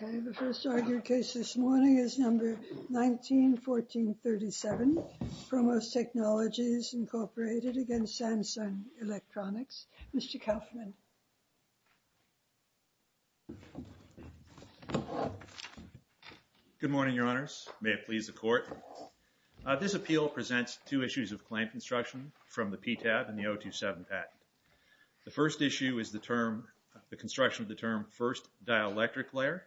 The first argued case this morning is No. 1914-37, ProMOS Technologies, Inc. v. Samsung Electronics. Mr. Kaufman. Good morning, Your Honors. May it please the Court. This appeal presents two issues of patent. The first issue is the term, the construction of the term, first dielectric layer.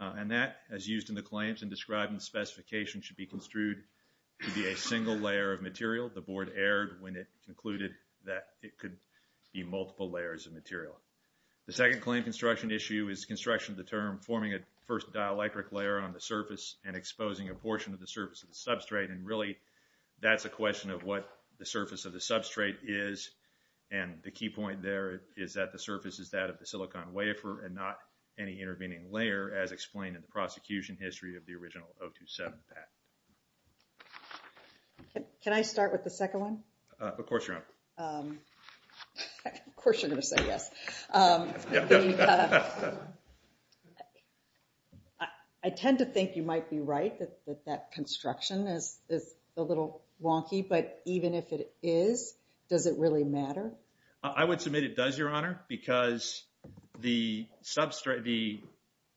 And that, as used in the claims and described in the specification, should be construed to be a single layer of material. The Board erred when it concluded that it could be multiple layers of material. The second claim construction issue is construction of the term forming a first dielectric layer on the surface and exposing a portion of the surface of the substrate. And really, that's a question of what the surface of the substrate is. And the key point there is that the surface is that of the silicon wafer and not any intervening layer as explained in the prosecution history of the original 027 patent. Can I start with the second one? Of course, Your Honor. Of course, you're going to say yes. I tend to think you might be right that that construction is a little wonky. But even if it is, does it really matter? I would submit it does, Your Honor, because the substrate, the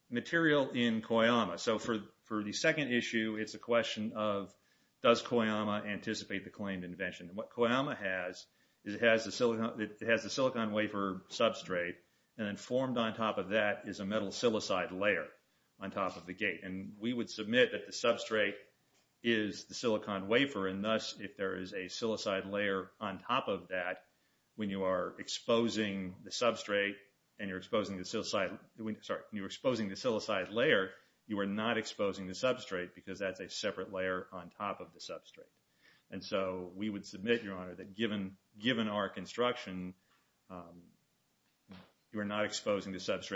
material in Koyama. So for the second issue, it's a question of does Koyama anticipate the claimed invention. What Koyama has is it has the silicon wafer substrate. And then formed on top of that is a metal silicide layer on top of the gate. And we would submit that the substrate is the silicon wafer. And thus, if there is a silicide layer on top of that, when you are exposing the substrate and you're exposing the silicide, sorry, you're exposing the silicide layer, you are not exposing the substrate because that's a separate layer on top of the substrate. And so we would submit, Your Honor, that given our construction, you are not exposing the first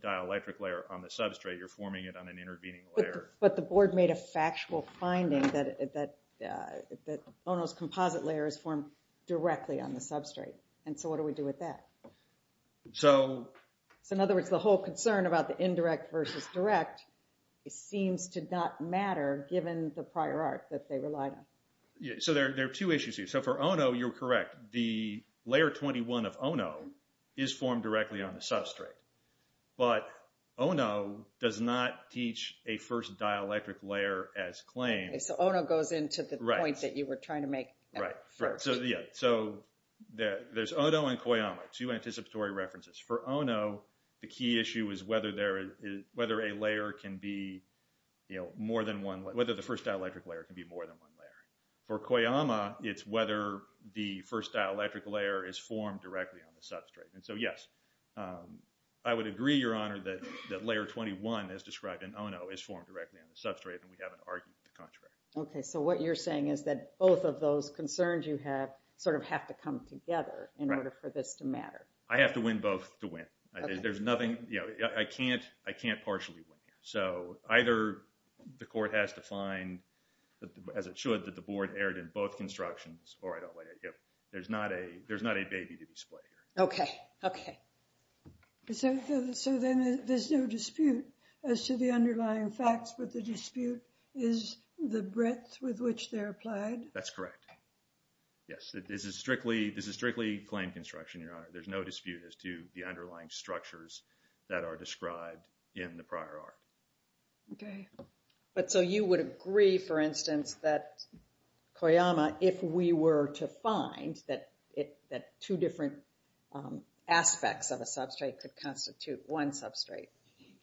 dielectric layer on the substrate. You're forming it on an intervening layer. But the board made a factual finding that Ono's composite layer is formed directly on the substrate. And so what do we do with that? So in other words, the whole concern about the indirect versus direct, it seems to not matter given the prior art that they relied on. So there are two issues here. So for Ono, you're correct. The layer 21 of Ono is formed directly on the substrate. But Ono does not teach a first dielectric layer as claimed. So Ono goes into the point that you were trying to make. Right. So yeah. So there's Ono and Koyama, two anticipatory references. For Ono, the key issue is whether a layer can be more than one, whether the first dielectric layer can be more than one layer. For Koyama, it's whether the first dielectric layer is formed directly on the substrate. And so yes, I would agree, Your Honor, that layer 21 as described in Ono is formed directly on the substrate, and we haven't argued the contract. Okay. So what you're saying is that both of those concerns you have sort of have to come together in order for this to matter. I have to win both to win. There's nothing, you know, I can't, I can't partially win. So either the court has to find, as it should, that the board erred in both constructions, or I don't like it. There's not a, there's not a baby to display here. Okay. Okay. So then there's no dispute as to the underlying facts, but the dispute is the breadth with which they're applied? That's correct. Yes. This is strictly, this is strictly claim construction, Your Honor. There's no dispute as to the underlying structures that are described in the prior art. Okay. But so you would agree, for instance, that Koyama, if we were to find that it, that two different aspects of a substrate could constitute one substrate,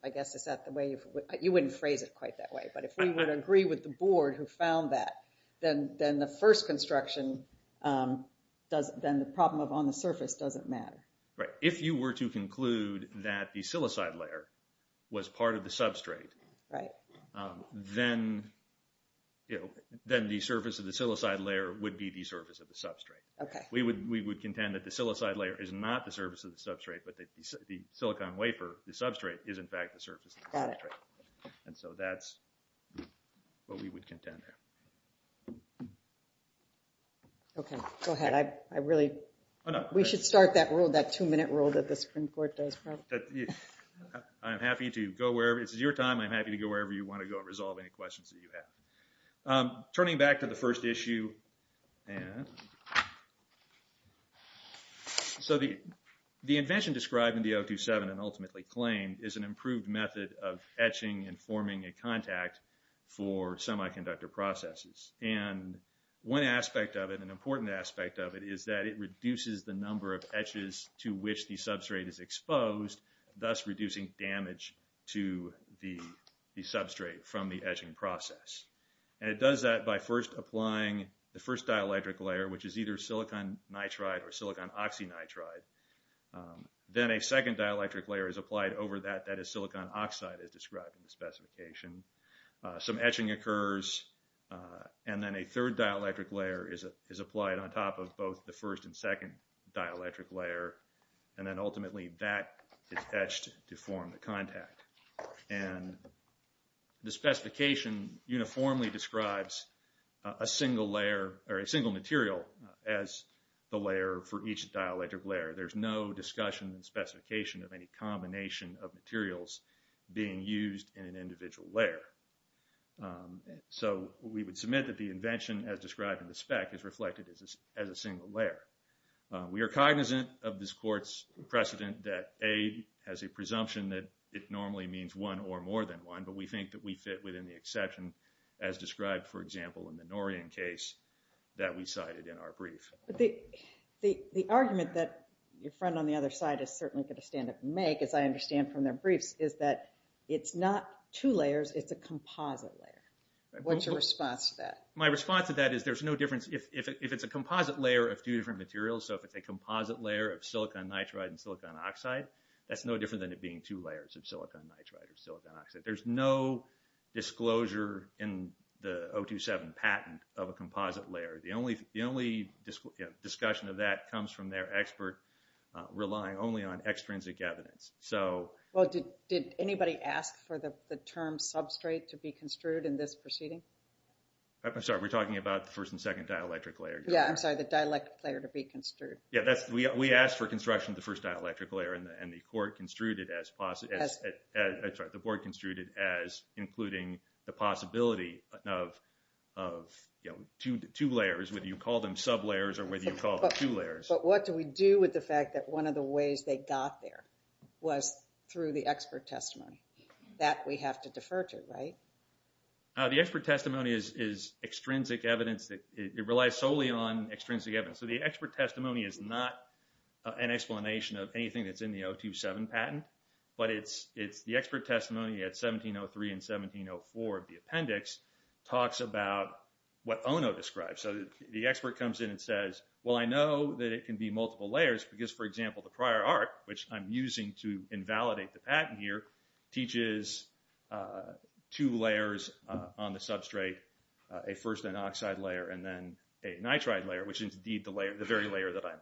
I guess, is that the way you would, you wouldn't phrase it quite that way. But if we would agree with the board who found that, then the first construction does, then the problem of on the surface doesn't matter. Right. If you were to conclude that the silicide layer was part of the substrate, then, then the surface of the silicide layer would be the surface of the substrate. We would contend that the silicide layer is not the surface of the substrate, but that the silicon wafer, the substrate, is in fact the surface of the substrate. And so that's what we would contend there. Okay. Go ahead. I really, we should start that rule, that two-minute rule that the Supreme Court does. I'm happy to go wherever, this is your time, I'm happy to go wherever you want to go and resolve any questions that you have. Turning back to the first issue, so the invention described in the 027 and ultimately claimed is an improved method of etching and forming a contact for semiconductor processes. And one aspect of it, an important aspect of it, is that it reduces the number of etches to which the substrate is exposed, thus reducing damage to the substrate from the etching process. And it does that by first applying the first dielectric layer, which is either silicon nitride or silicon oxynitride, then a second dielectric layer is applied over that, that is silicon oxide as described in the specification. Some etching occurs, and then a third dielectric layer is applied on top of both the first and second dielectric layer, and then ultimately that is etched to form the contact. And the specification uniformly describes a single layer, or a single material, as the layer for each dielectric layer. There's no discussion in the specification of any combination of materials being used in an individual layer. So we would submit that the invention as described in the spec is reflected as a single layer. We are cognizant of this court's precedent that A, has a presumption that it normally means one or more than one, but we think that we fit within the exception as described, for example, in the Norian case that we cited in our brief. The argument that your friend on the other side is certainly going to stand up and make, as I understand from their briefs, is that it's not two layers, it's a composite layer. What's your response to that? My response to that is, if it's a composite layer of two different materials, so if it's a composite layer of silicon nitride and silicon oxide, that's no different than it being two layers of silicon nitride or silicon oxide. There's no disclosure in the 027 patent of a composite layer. The only discussion of that comes from their expert relying only on extrinsic evidence. Did anybody ask for the term substrate to be construed in this proceeding? I'm sorry, we're talking about the first and second dielectric layer. Yeah, I'm sorry, the dielectric layer to be construed. Yeah, we asked for construction of the first dielectric layer and the board construed it as including the possibility of two layers, whether you call them sub-layers or whether you call them two layers. But what do we do with the fact that one of the ways they got there was through the expert testimony? That we have to defer to, right? The expert testimony is extrinsic evidence that it relies solely on extrinsic evidence. So the expert testimony is not an explanation of anything that's in the 027 patent, but it's the expert testimony at 1703 and 1704 of the appendix talks about what Ono describes. So the expert comes in and says, well, I know that it can be multiple layers because, for to invalidate the patent here, teaches two layers on the substrate, a first an oxide layer and then a nitride layer, which is indeed the very layer that I'm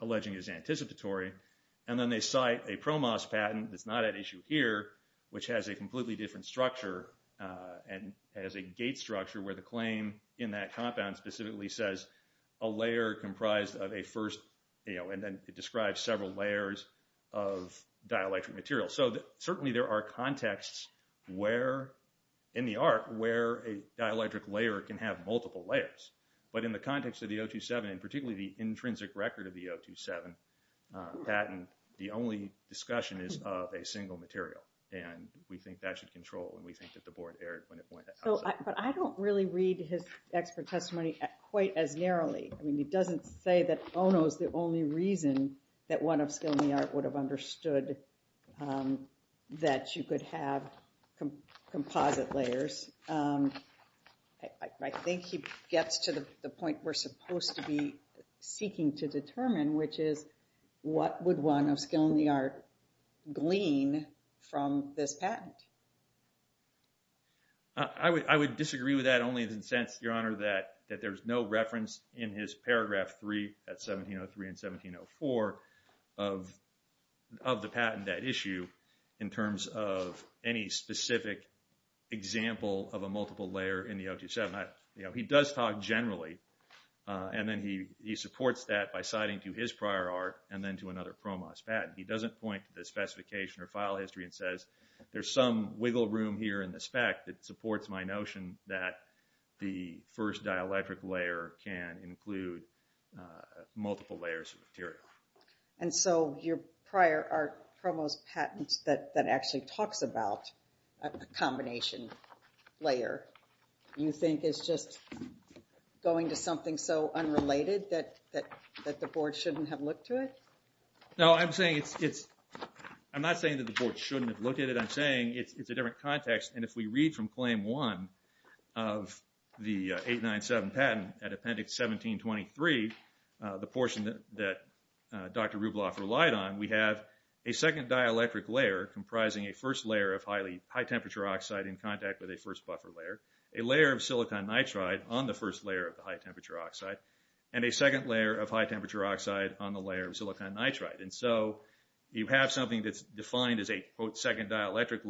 alleging is anticipatory. And then they cite a PROMOS patent that's not at issue here, which has a completely different structure and has a gate structure where the claim in that compound specifically says a layer comprised of a first, you know, and then it describes several layers of dielectric material. So certainly there are contexts where, in the art, where a dielectric layer can have multiple layers. But in the context of the 027 and particularly the intrinsic record of the 027 patent, the only discussion is of a single material. And we think that should control and we think that the board erred when it went outside. But I don't really read his expert testimony quite as narrowly. I mean, he doesn't say that Ono is the only reason that one of skill in the art would have understood that you could have composite layers. I think he gets to the point we're supposed to be seeking to determine, which is what would one of skill in the art glean from this patent? I would disagree with that only in the sense, Your Honor, that there's no reference in his paragraph three at 1703 and 1704 of the patent at issue in terms of any specific example of a multiple layer in the 027. You know, he does talk generally, and then he supports that by citing to his prior art and then to another PROMOS patent. He doesn't point to the specification or file history and says, there's some wiggle room here in the spec that supports my notion that the first dielectric layer can include multiple layers of material. And so your prior art PROMOS patents that actually talks about a combination layer, you think is just going to something so unrelated that the board shouldn't have looked to it? No, I'm not saying that the board shouldn't have looked at it. I'm saying it's a different context. And if we read from claim one of the 897 patent at appendix 1723, the portion that Dr. Rubloff relied on, we have a second dielectric layer comprising a first layer of high temperature oxide in contact with a first buffer layer, a layer of silicon nitride on the first layer of the high temperature oxide, and a second layer of high temperature oxide on the layer of silicon nitride. And so you have something that's defined as a, quote, second dielectric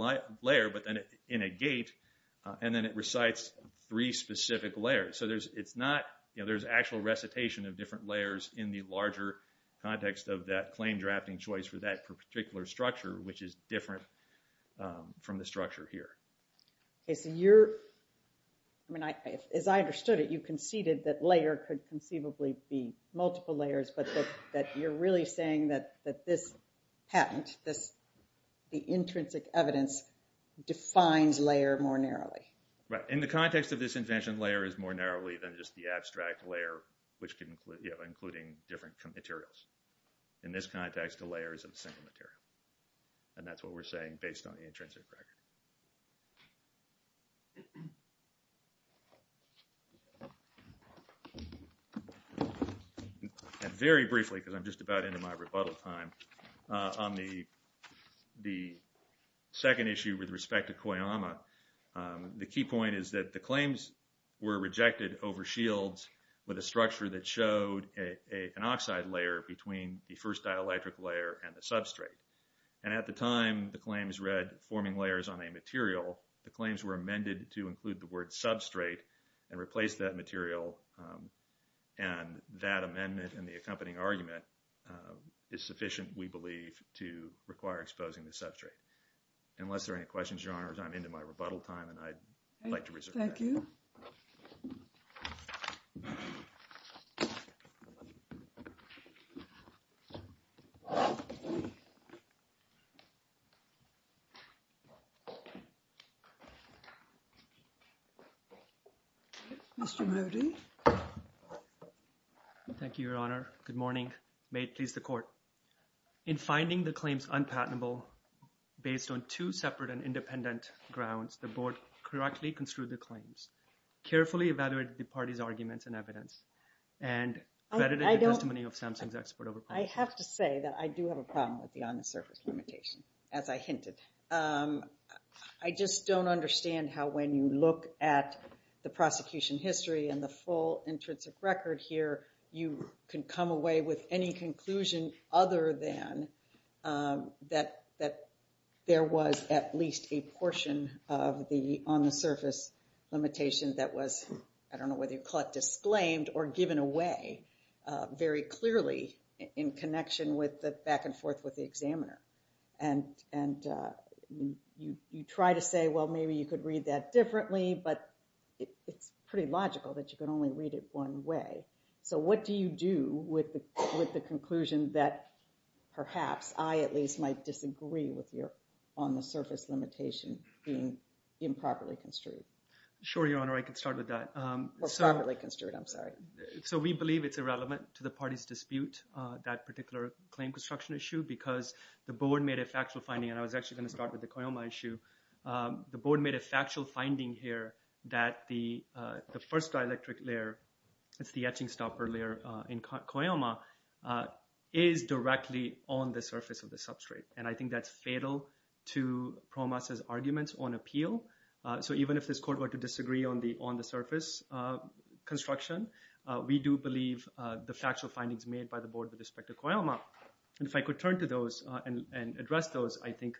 layer, but then in a gate, and then it recites three specific layers. So there's actual recitation of different layers in the larger context of that claim drafting choice for that particular structure, which is different from the structure here. OK, so as I understood it, you conceded that layer could conceivably be multiple layers, that you're really saying that this patent, the intrinsic evidence, defines layer more narrowly. Right. In the context of this invention, layer is more narrowly than just the abstract layer, which can include, you know, including different materials. In this context, the layer is a single material. And that's what we're saying based on the intrinsic record. And very briefly, because I'm just about into my rebuttal time, on the second issue with respect to Koyama, the key point is that the claims were rejected over shields with a structure that showed an oxide layer between the first dielectric layer and the substrate. And at the time the claims read forming layers on a material, the claims were amended to include the word substrate and replace that material. And that amendment and the accompanying argument is sufficient, we believe, to require exposing the substrate. Unless there are any questions, Your Honors, I'm into my rebuttal time, and I'd like to move to Mr. Modi. Thank you, Your Honor. Good morning. May it please the Court. In finding the claims unpatentable based on two separate and independent grounds, the Board correctly construed the claims, carefully evaluated the parties' arguments and evidence, and vetted the testimony of Samsung's expert over policy. I have to say that I do have a problem with the on-the-surface limitation, as I hinted. I just don't understand how, when you look at the prosecution history and the full intrinsic record here, you can come away with any conclusion other than that there was at least a portion of the on-the-surface limitation that was, I don't know whether you'd call it disclaimed or given away very clearly in connection with the back and forth with the examiner. And you try to say, well, maybe you could read that differently, but it's pretty logical that you can only read it one way. So what do you do with the conclusion that, perhaps, I at least might disagree with your on-the-surface limitation being improperly construed? Sure, Your Honor. I can start with that. Or properly construed, I'm sorry. So we believe it's irrelevant to the parties' dispute, that particular claim construction issue, because the board made a factual finding, and I was actually going to start with the Cuyama issue. The board made a factual finding here that the first dielectric layer, it's the etching stopper layer in Cuyama, is directly on the surface of the substrate. And I think that's fatal to PROMAS' arguments on appeal. So even if this court were to disagree on the on-the-surface construction, we do believe the factual findings made by the board with respect to Cuyama. And if I could turn to those and address those, I think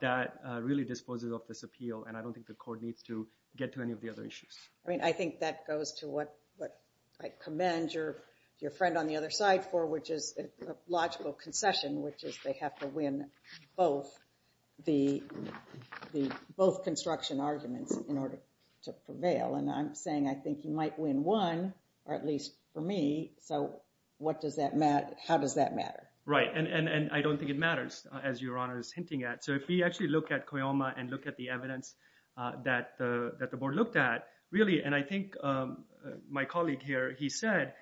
that really disposes of this appeal, and I don't think the court needs to get to any of the other issues. I mean, I think that goes to what I commend your friend on the other side for, which is logical concession, which is they have to win both construction arguments in order to prevail. And I'm saying I think you might win one, or at least for me. So what does that matter? How does that matter? Right, and I don't think it matters, as Your Honor is hinting at. So if we actually look at Cuyama and look at the evidence that the board looked at, and I think my colleague here, he said,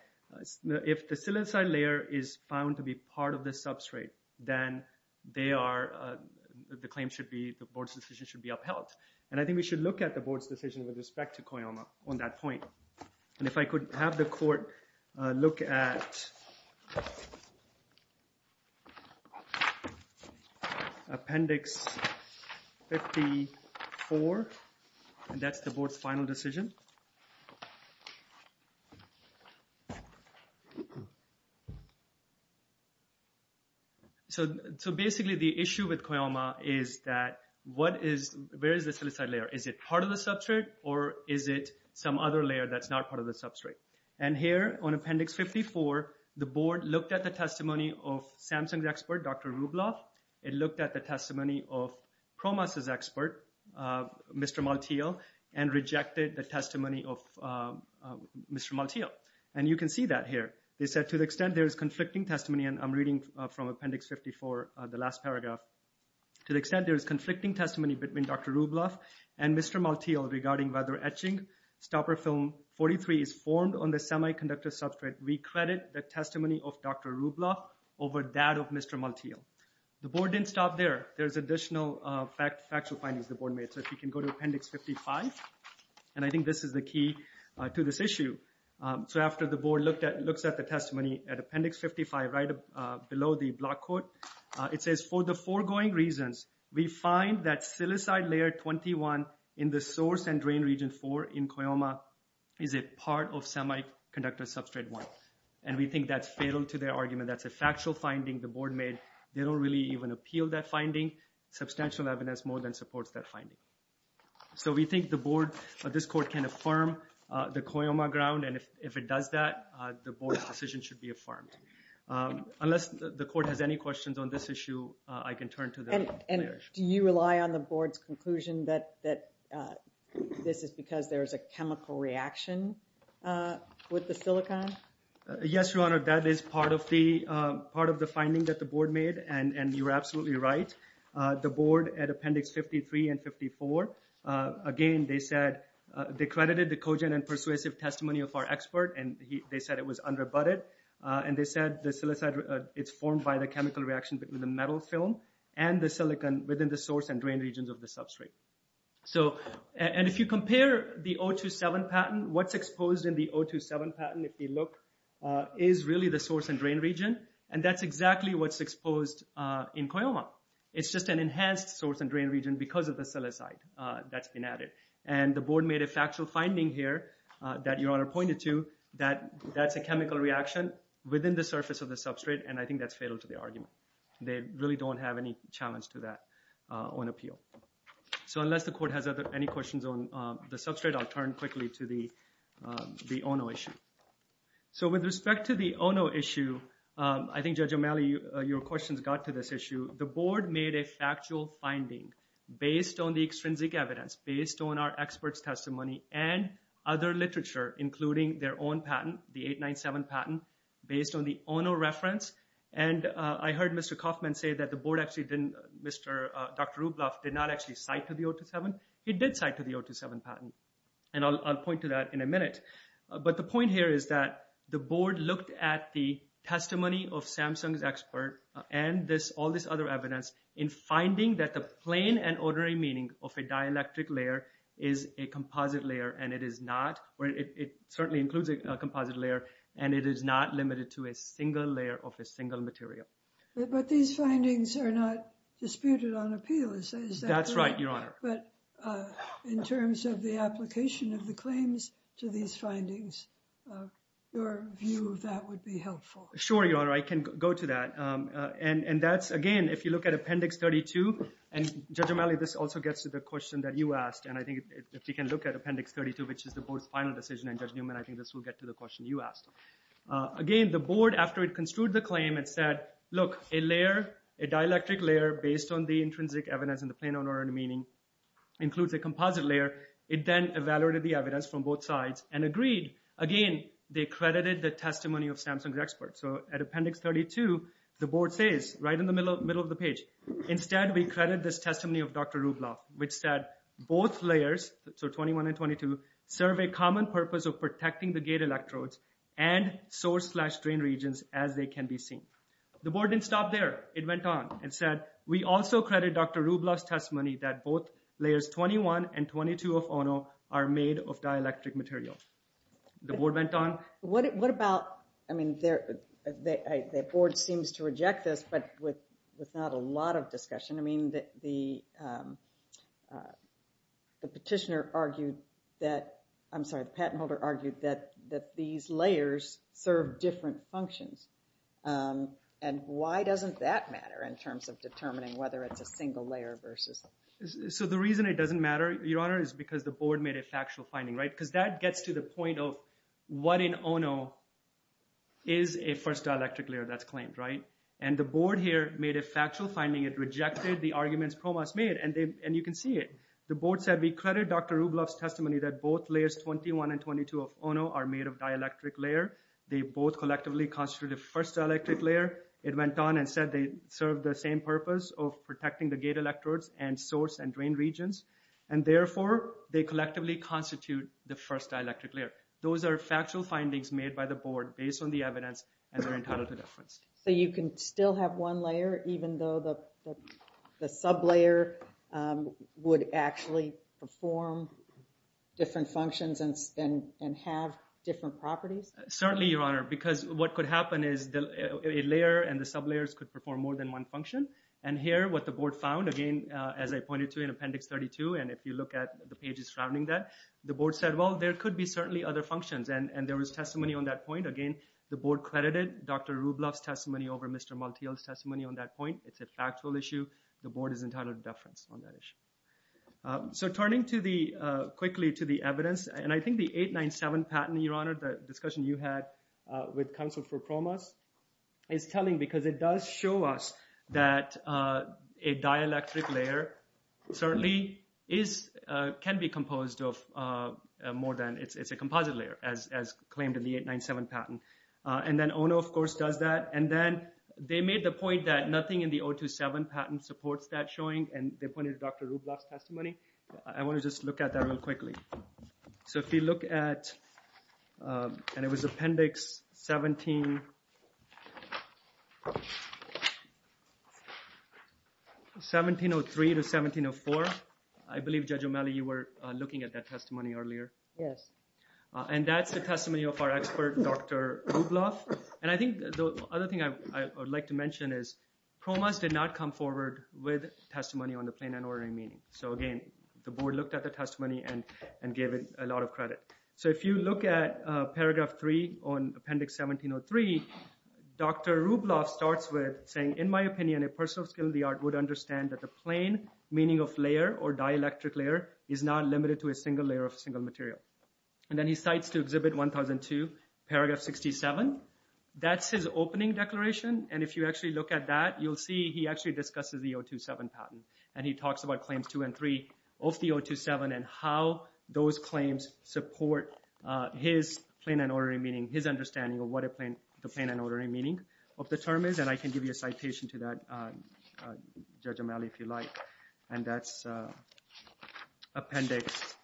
if the silicide layer is found to be part of the substrate, then the claim should be, the board's decision should be upheld. And I think we should look at the board's decision with respect to Cuyama on that point. And if I could have the court look at Appendix 54, and that's the board's final decision. So basically, the issue with Cuyama is that what is, where is the silicide layer? Is it part of the substrate, or is it some other layer that's not part of the substrate? And here on Appendix 54, the board looked at the testimony of it looked at the testimony of PROMAS' expert, Mr. Maltiel, and rejected the testimony of Mr. Maltiel. And you can see that here. They said, to the extent there is conflicting testimony, and I'm reading from Appendix 54, the last paragraph. To the extent there is conflicting testimony between Dr. Rubloff and Mr. Maltiel regarding whether etching stopper film 43 is formed on the semiconductor substrate, we credit the testimony of Dr. Rubloff over that of Mr. Maltiel. The board didn't stop there. There's additional factual findings the board made. So if you can go to Appendix 55, and I think this is the key to this issue. So after the board looked at, looks at the testimony at Appendix 55, right below the block quote, it says, for the foregoing reasons, we find that silicide layer 21 in the source and drain region four in Cuyama is a part of semiconductor substrate one. And we think that's fatal to their argument. That's a factual finding the board made. They don't really even appeal that finding. Substantial evidence more than supports that finding. So we think the board, this court can affirm the Cuyama ground, and if it does that, the board's decision should be affirmed. Unless the court has any questions on this issue, I can turn to them. And do you rely on the board's conclusion that this is because there's a chemical reaction with the silicon? Yes, Your Honor, that is part of the finding that the board made, and you're absolutely right. The board at Appendix 53 and 54, again, they said, they credited the cogent and persuasive testimony of our expert, and they said it was unrebutted. And they said the silicide, it's formed by the chemical reaction between the metal film and the silicon within the source and drain regions of the substrate. So, and if you compare the 027 patent, what's exposed in the 027 patent, if you look, is really the source and drain region, and that's exactly what's exposed in Cuyama. It's just an enhanced source and drain region because of the silicide that's been added. And the board made a factual finding here that Your Honor pointed to, that that's a chemical reaction within the surface of the substrate, and I think that's fatal to the argument. They really don't have any challenge to that on appeal. So unless the court has any questions on the substrate, I'll turn quickly to the ONO issue. So with respect to the ONO issue, I think Judge O'Malley, your questions got to this issue. The board made a factual finding based on the extrinsic evidence, based on our expert's testimony and other literature, including their own patent, the 897 patent, based on the ONO reference. And I heard Mr. Kaufman say that the board actually didn't, Mr. Dr. Rublev did not actually cite to the 027. He did cite to the 027 patent, and I'll point to that in a minute. But the point here is that the board looked at the testimony of Samsung's expert and all this other evidence in finding that the plain and ordinary meaning of a dielectric layer is a composite layer, and it is not, or it certainly includes a composite layer, and it is not limited to a single layer of a single material. But these findings are not disputed on appeal, is that correct? That's right, Your Honor. But in terms of the application of the claims to these findings, your view of that would be helpful. Sure, Your Honor, I can go to that. And that's, again, if you look at Appendix 32, and Judge O'Malley, this also gets to the question that you asked, and I think if you can look at Appendix 32, which is the board's final decision, and Judge Newman, I think this will get to the question you asked. Again, the board, after it construed the claim, it said, look, a layer, a dielectric layer, based on the intrinsic evidence in the plain and ordinary meaning, includes a composite layer. It then evaluated the evidence from both sides and agreed. Again, they credited the testimony of Samsung's experts. So at Appendix 32, the board says, right in the middle of the page, instead, we credit this testimony of Dr. Rublev, which said both layers, so 21 and 22, serve a common purpose of protecting the gate electrodes and source-slash-strain regions as they can be seen. The board didn't stop there. It went on and said, we also credit Dr. Rublev's testimony that both layers, 21 and 22 of ONO, are made of dielectric material. The board went on. What about, I mean, the board seems to reject this, but with not a lot of discussion. I mean, the petitioner argued that, I'm sorry, the patent holder argued that these layers serve different functions. And why doesn't that matter in terms of determining whether it's a single layer versus... So the reason it doesn't matter, Your Honor, is because the board made a factual finding, right? Because that gets to the point of what in ONO is a first dielectric layer that's claimed, right? And the board here made a factual finding. It rejected the arguments PROMAS made, and you can see it. The board said, we credit Dr. Rublev's testimony that both layers, 21 and 22 of ONO, are made of dielectric layer. They both collectively constitute a first dielectric layer. It went on and said they serve the same purpose of protecting the gate electrodes and source and drain regions. And therefore, they collectively constitute the first dielectric layer. Those are factual findings made by the board based on the evidence, and they're entitled to deference. So you can still have one layer, even though the sublayer would actually perform different functions and have different properties? Certainly, Your Honor, because what could happen is a layer and the sublayers could perform more than one function. And here, what the board found, again, as I pointed to in Appendix 32, and if you look at the pages surrounding that, the board said, well, there could be certainly other functions. And there was testimony on that point. Again, the board credited Dr. Rublev's testimony over Mr. Maltiel's testimony on that point. It's a factual issue. The board is entitled to deference on that issue. So turning quickly to the evidence, and I think the 897 patent, Your Honor, the discussion you had with counsel for PROMAS, is telling because it does show us that a dielectric layer certainly can be composed of more than, it's a composite layer, as claimed in the 897 patent. And then ONO, of course, does that. And then they made the point that nothing in the 027 patent supports that showing, and they pointed to Dr. Rublev's testimony. I want to just look at that real quickly. So if you look at, and it was Appendix 1703 to 1704. I believe, Judge O'Malley, you were looking at that testimony earlier. Yes. And that's the testimony of our expert, Dr. Rublev. And I think the other thing I would like to mention is PROMAS did not come forward with testimony on the plain and ordinary meaning. So again, the board looked at the testimony and gave it a lot of credit. So if you look at Paragraph 3 on Appendix 1703, Dr. Rublev starts with saying, in my opinion, a person of skill in the art would understand that the plain meaning of layer or dielectric layer is not limited to a single layer of single material. And then he cites to Exhibit 1002, Paragraph 67. That's his opening declaration. And if you actually look at that, you'll see he actually discusses the 027 patent. And he talks about Claims 2 and 3 of the 027 and how those claims support his plain and ordinary meaning, his understanding of what the plain and ordinary meaning of the term is. And I can give you a citation to that, Judge O'Malley, if you like. And that's Appendix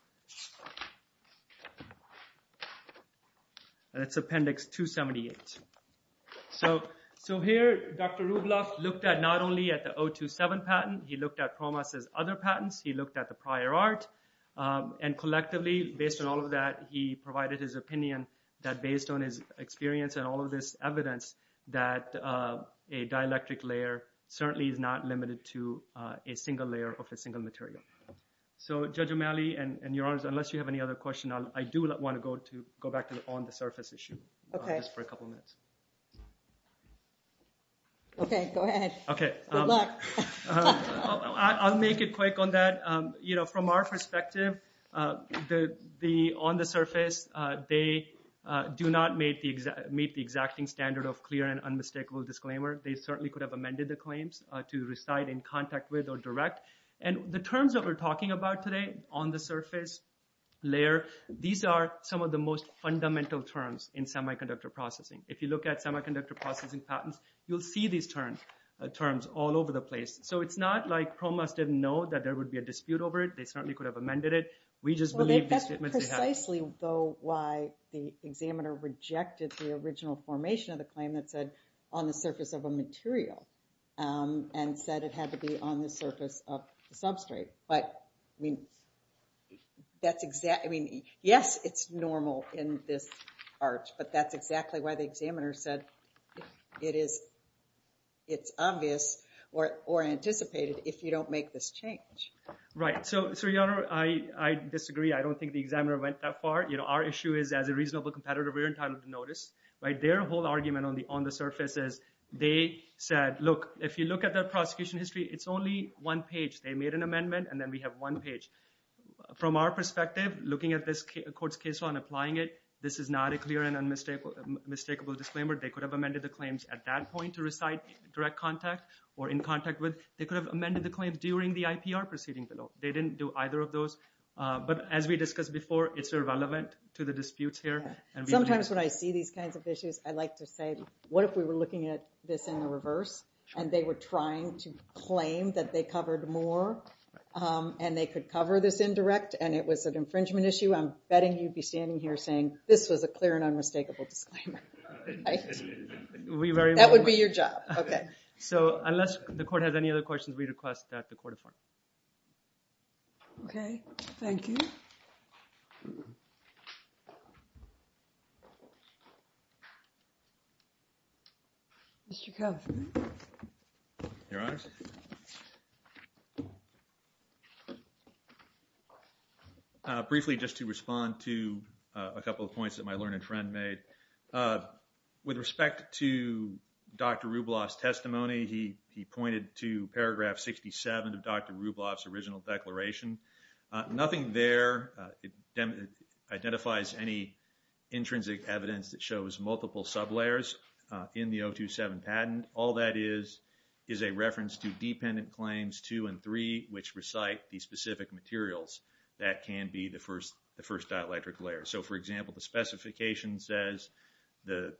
278. So here, Dr. Rublev looked at not only at the 027 patent, he looked at PROMAS' other patents, he looked at the prior art. And collectively, based on all of that, he provided his opinion that based on his experience and all of this evidence that a dielectric layer certainly is not limited to a single layer of a single material. So Judge O'Malley, and Your Honors, unless you have any other question, I do want to go back to the on-the-surface issue. Okay. Just for a couple minutes. Okay, go ahead. Okay. Good luck. I'll make it quick on that. From our perspective, the on-the-surface, they do not meet the exacting standard of clear and unmistakable disclaimer. They certainly could have amended the claims to reside in contact with or direct. And the terms that we're talking about today, on-the-surface, layer, these are some of the most fundamental terms in semiconductor processing. If you look at semiconductor processing patents, you'll see these terms all over the place. So it's not like PROMAS didn't know that there would be a dispute over it. They certainly could have amended it. We just believe the statements they have. Well, that's precisely though why the examiner rejected the original formation of the claim that said on the surface of a material and said it had to be on the surface of the substrate. But I mean, yes, it's normal in this part, but that's exactly why the examiner said it's obvious or anticipated if you don't make this change. Right. So, Your Honor, I disagree. I don't think the examiner went that far. Our issue is as a reasonable competitor, we're entitled to notice. Their whole argument on the surface is they said, look, if you look at the prosecution history, it's only one page. They made an amendment and then we have one page. From our perspective, looking at this court's case law and applying it, this is not a clear and unmistakable disclaimer. They could have amended the claims at that point to recite direct contact or in contact with. They could have amended the claims during the IPR proceeding below. They didn't do either of those. But as we discussed before, it's irrelevant to the disputes here. Sometimes when I see these kinds of issues, I like to say, what if we were looking at this in the reverse and they were trying to claim that they covered more and they could cover this indirect and it was an infringement issue. I'm betting you'd be standing here saying this was a clear and unmistakable disclaimer. We very- That would be your job, okay. So unless the court has any other questions, we request that the court affirm. Okay, thank you. Mr. Kovner. Your honors. Briefly, just to respond to a couple of points that my learned friend made. With respect to Dr. Rubloff's testimony, he pointed to paragraph 67 of Dr. Rubloff's original declaration. Nothing there identifies any intrinsic evidence that shows multiple sublayers in the 027 patent. All that is is a reference to dependent claims two and three, which recite the specific materials that can be the first dielectric layer. So for example, the specification says the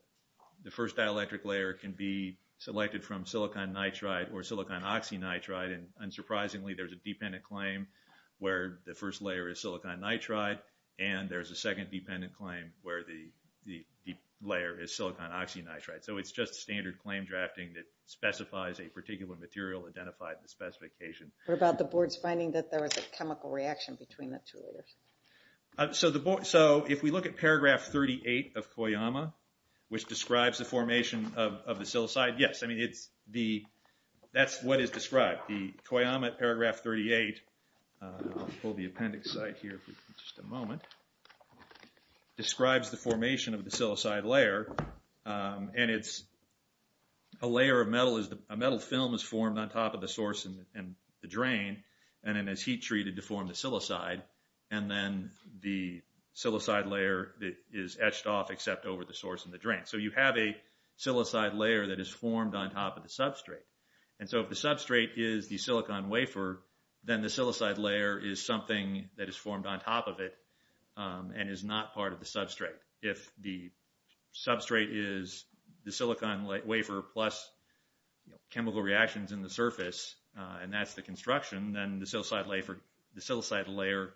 first dielectric layer can be selected from silicon nitride or silicon oxynitride and unsurprisingly, there's a dependent claim where the first layer is silicon nitride and there's a second dependent claim where the layer is silicon oxynitride. So it's just standard claim drafting that specifies a particular material identified in the specification. What about the board's finding that there was a chemical reaction between the two layers? So if we look at paragraph 38 of Koyama, which describes the formation of the silicide, yes, I mean, that's what is described. The Koyama at paragraph 38, I'll pull the appendix site here for just a moment, describes the formation of the silicide layer and it's a layer of metal, a metal film is formed on top of the source and the drain and then as heat treated to form the silicide and then the silicide layer is etched off except over the source and the drain. So you have a silicide layer that is formed on top of the substrate. And so if the substrate is the silicon wafer, then the silicide layer is something that is formed on top of it and is not part of the substrate. If the substrate is the silicon wafer plus chemical reactions in the surface and that's the construction, then the silicide layer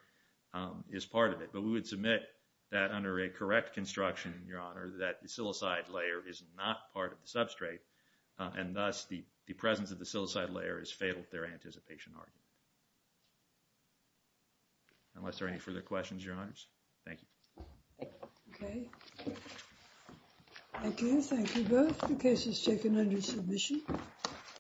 is part of it. But we would submit that under a correct construction, Your Honor, that the silicide layer is not part of the substrate and thus the presence of the silicide layer is fatal to their anticipation argument. Unless there are any further questions, Your Honors. Thank you. Okay. Thank you. Thank you both. The case is taken under submission.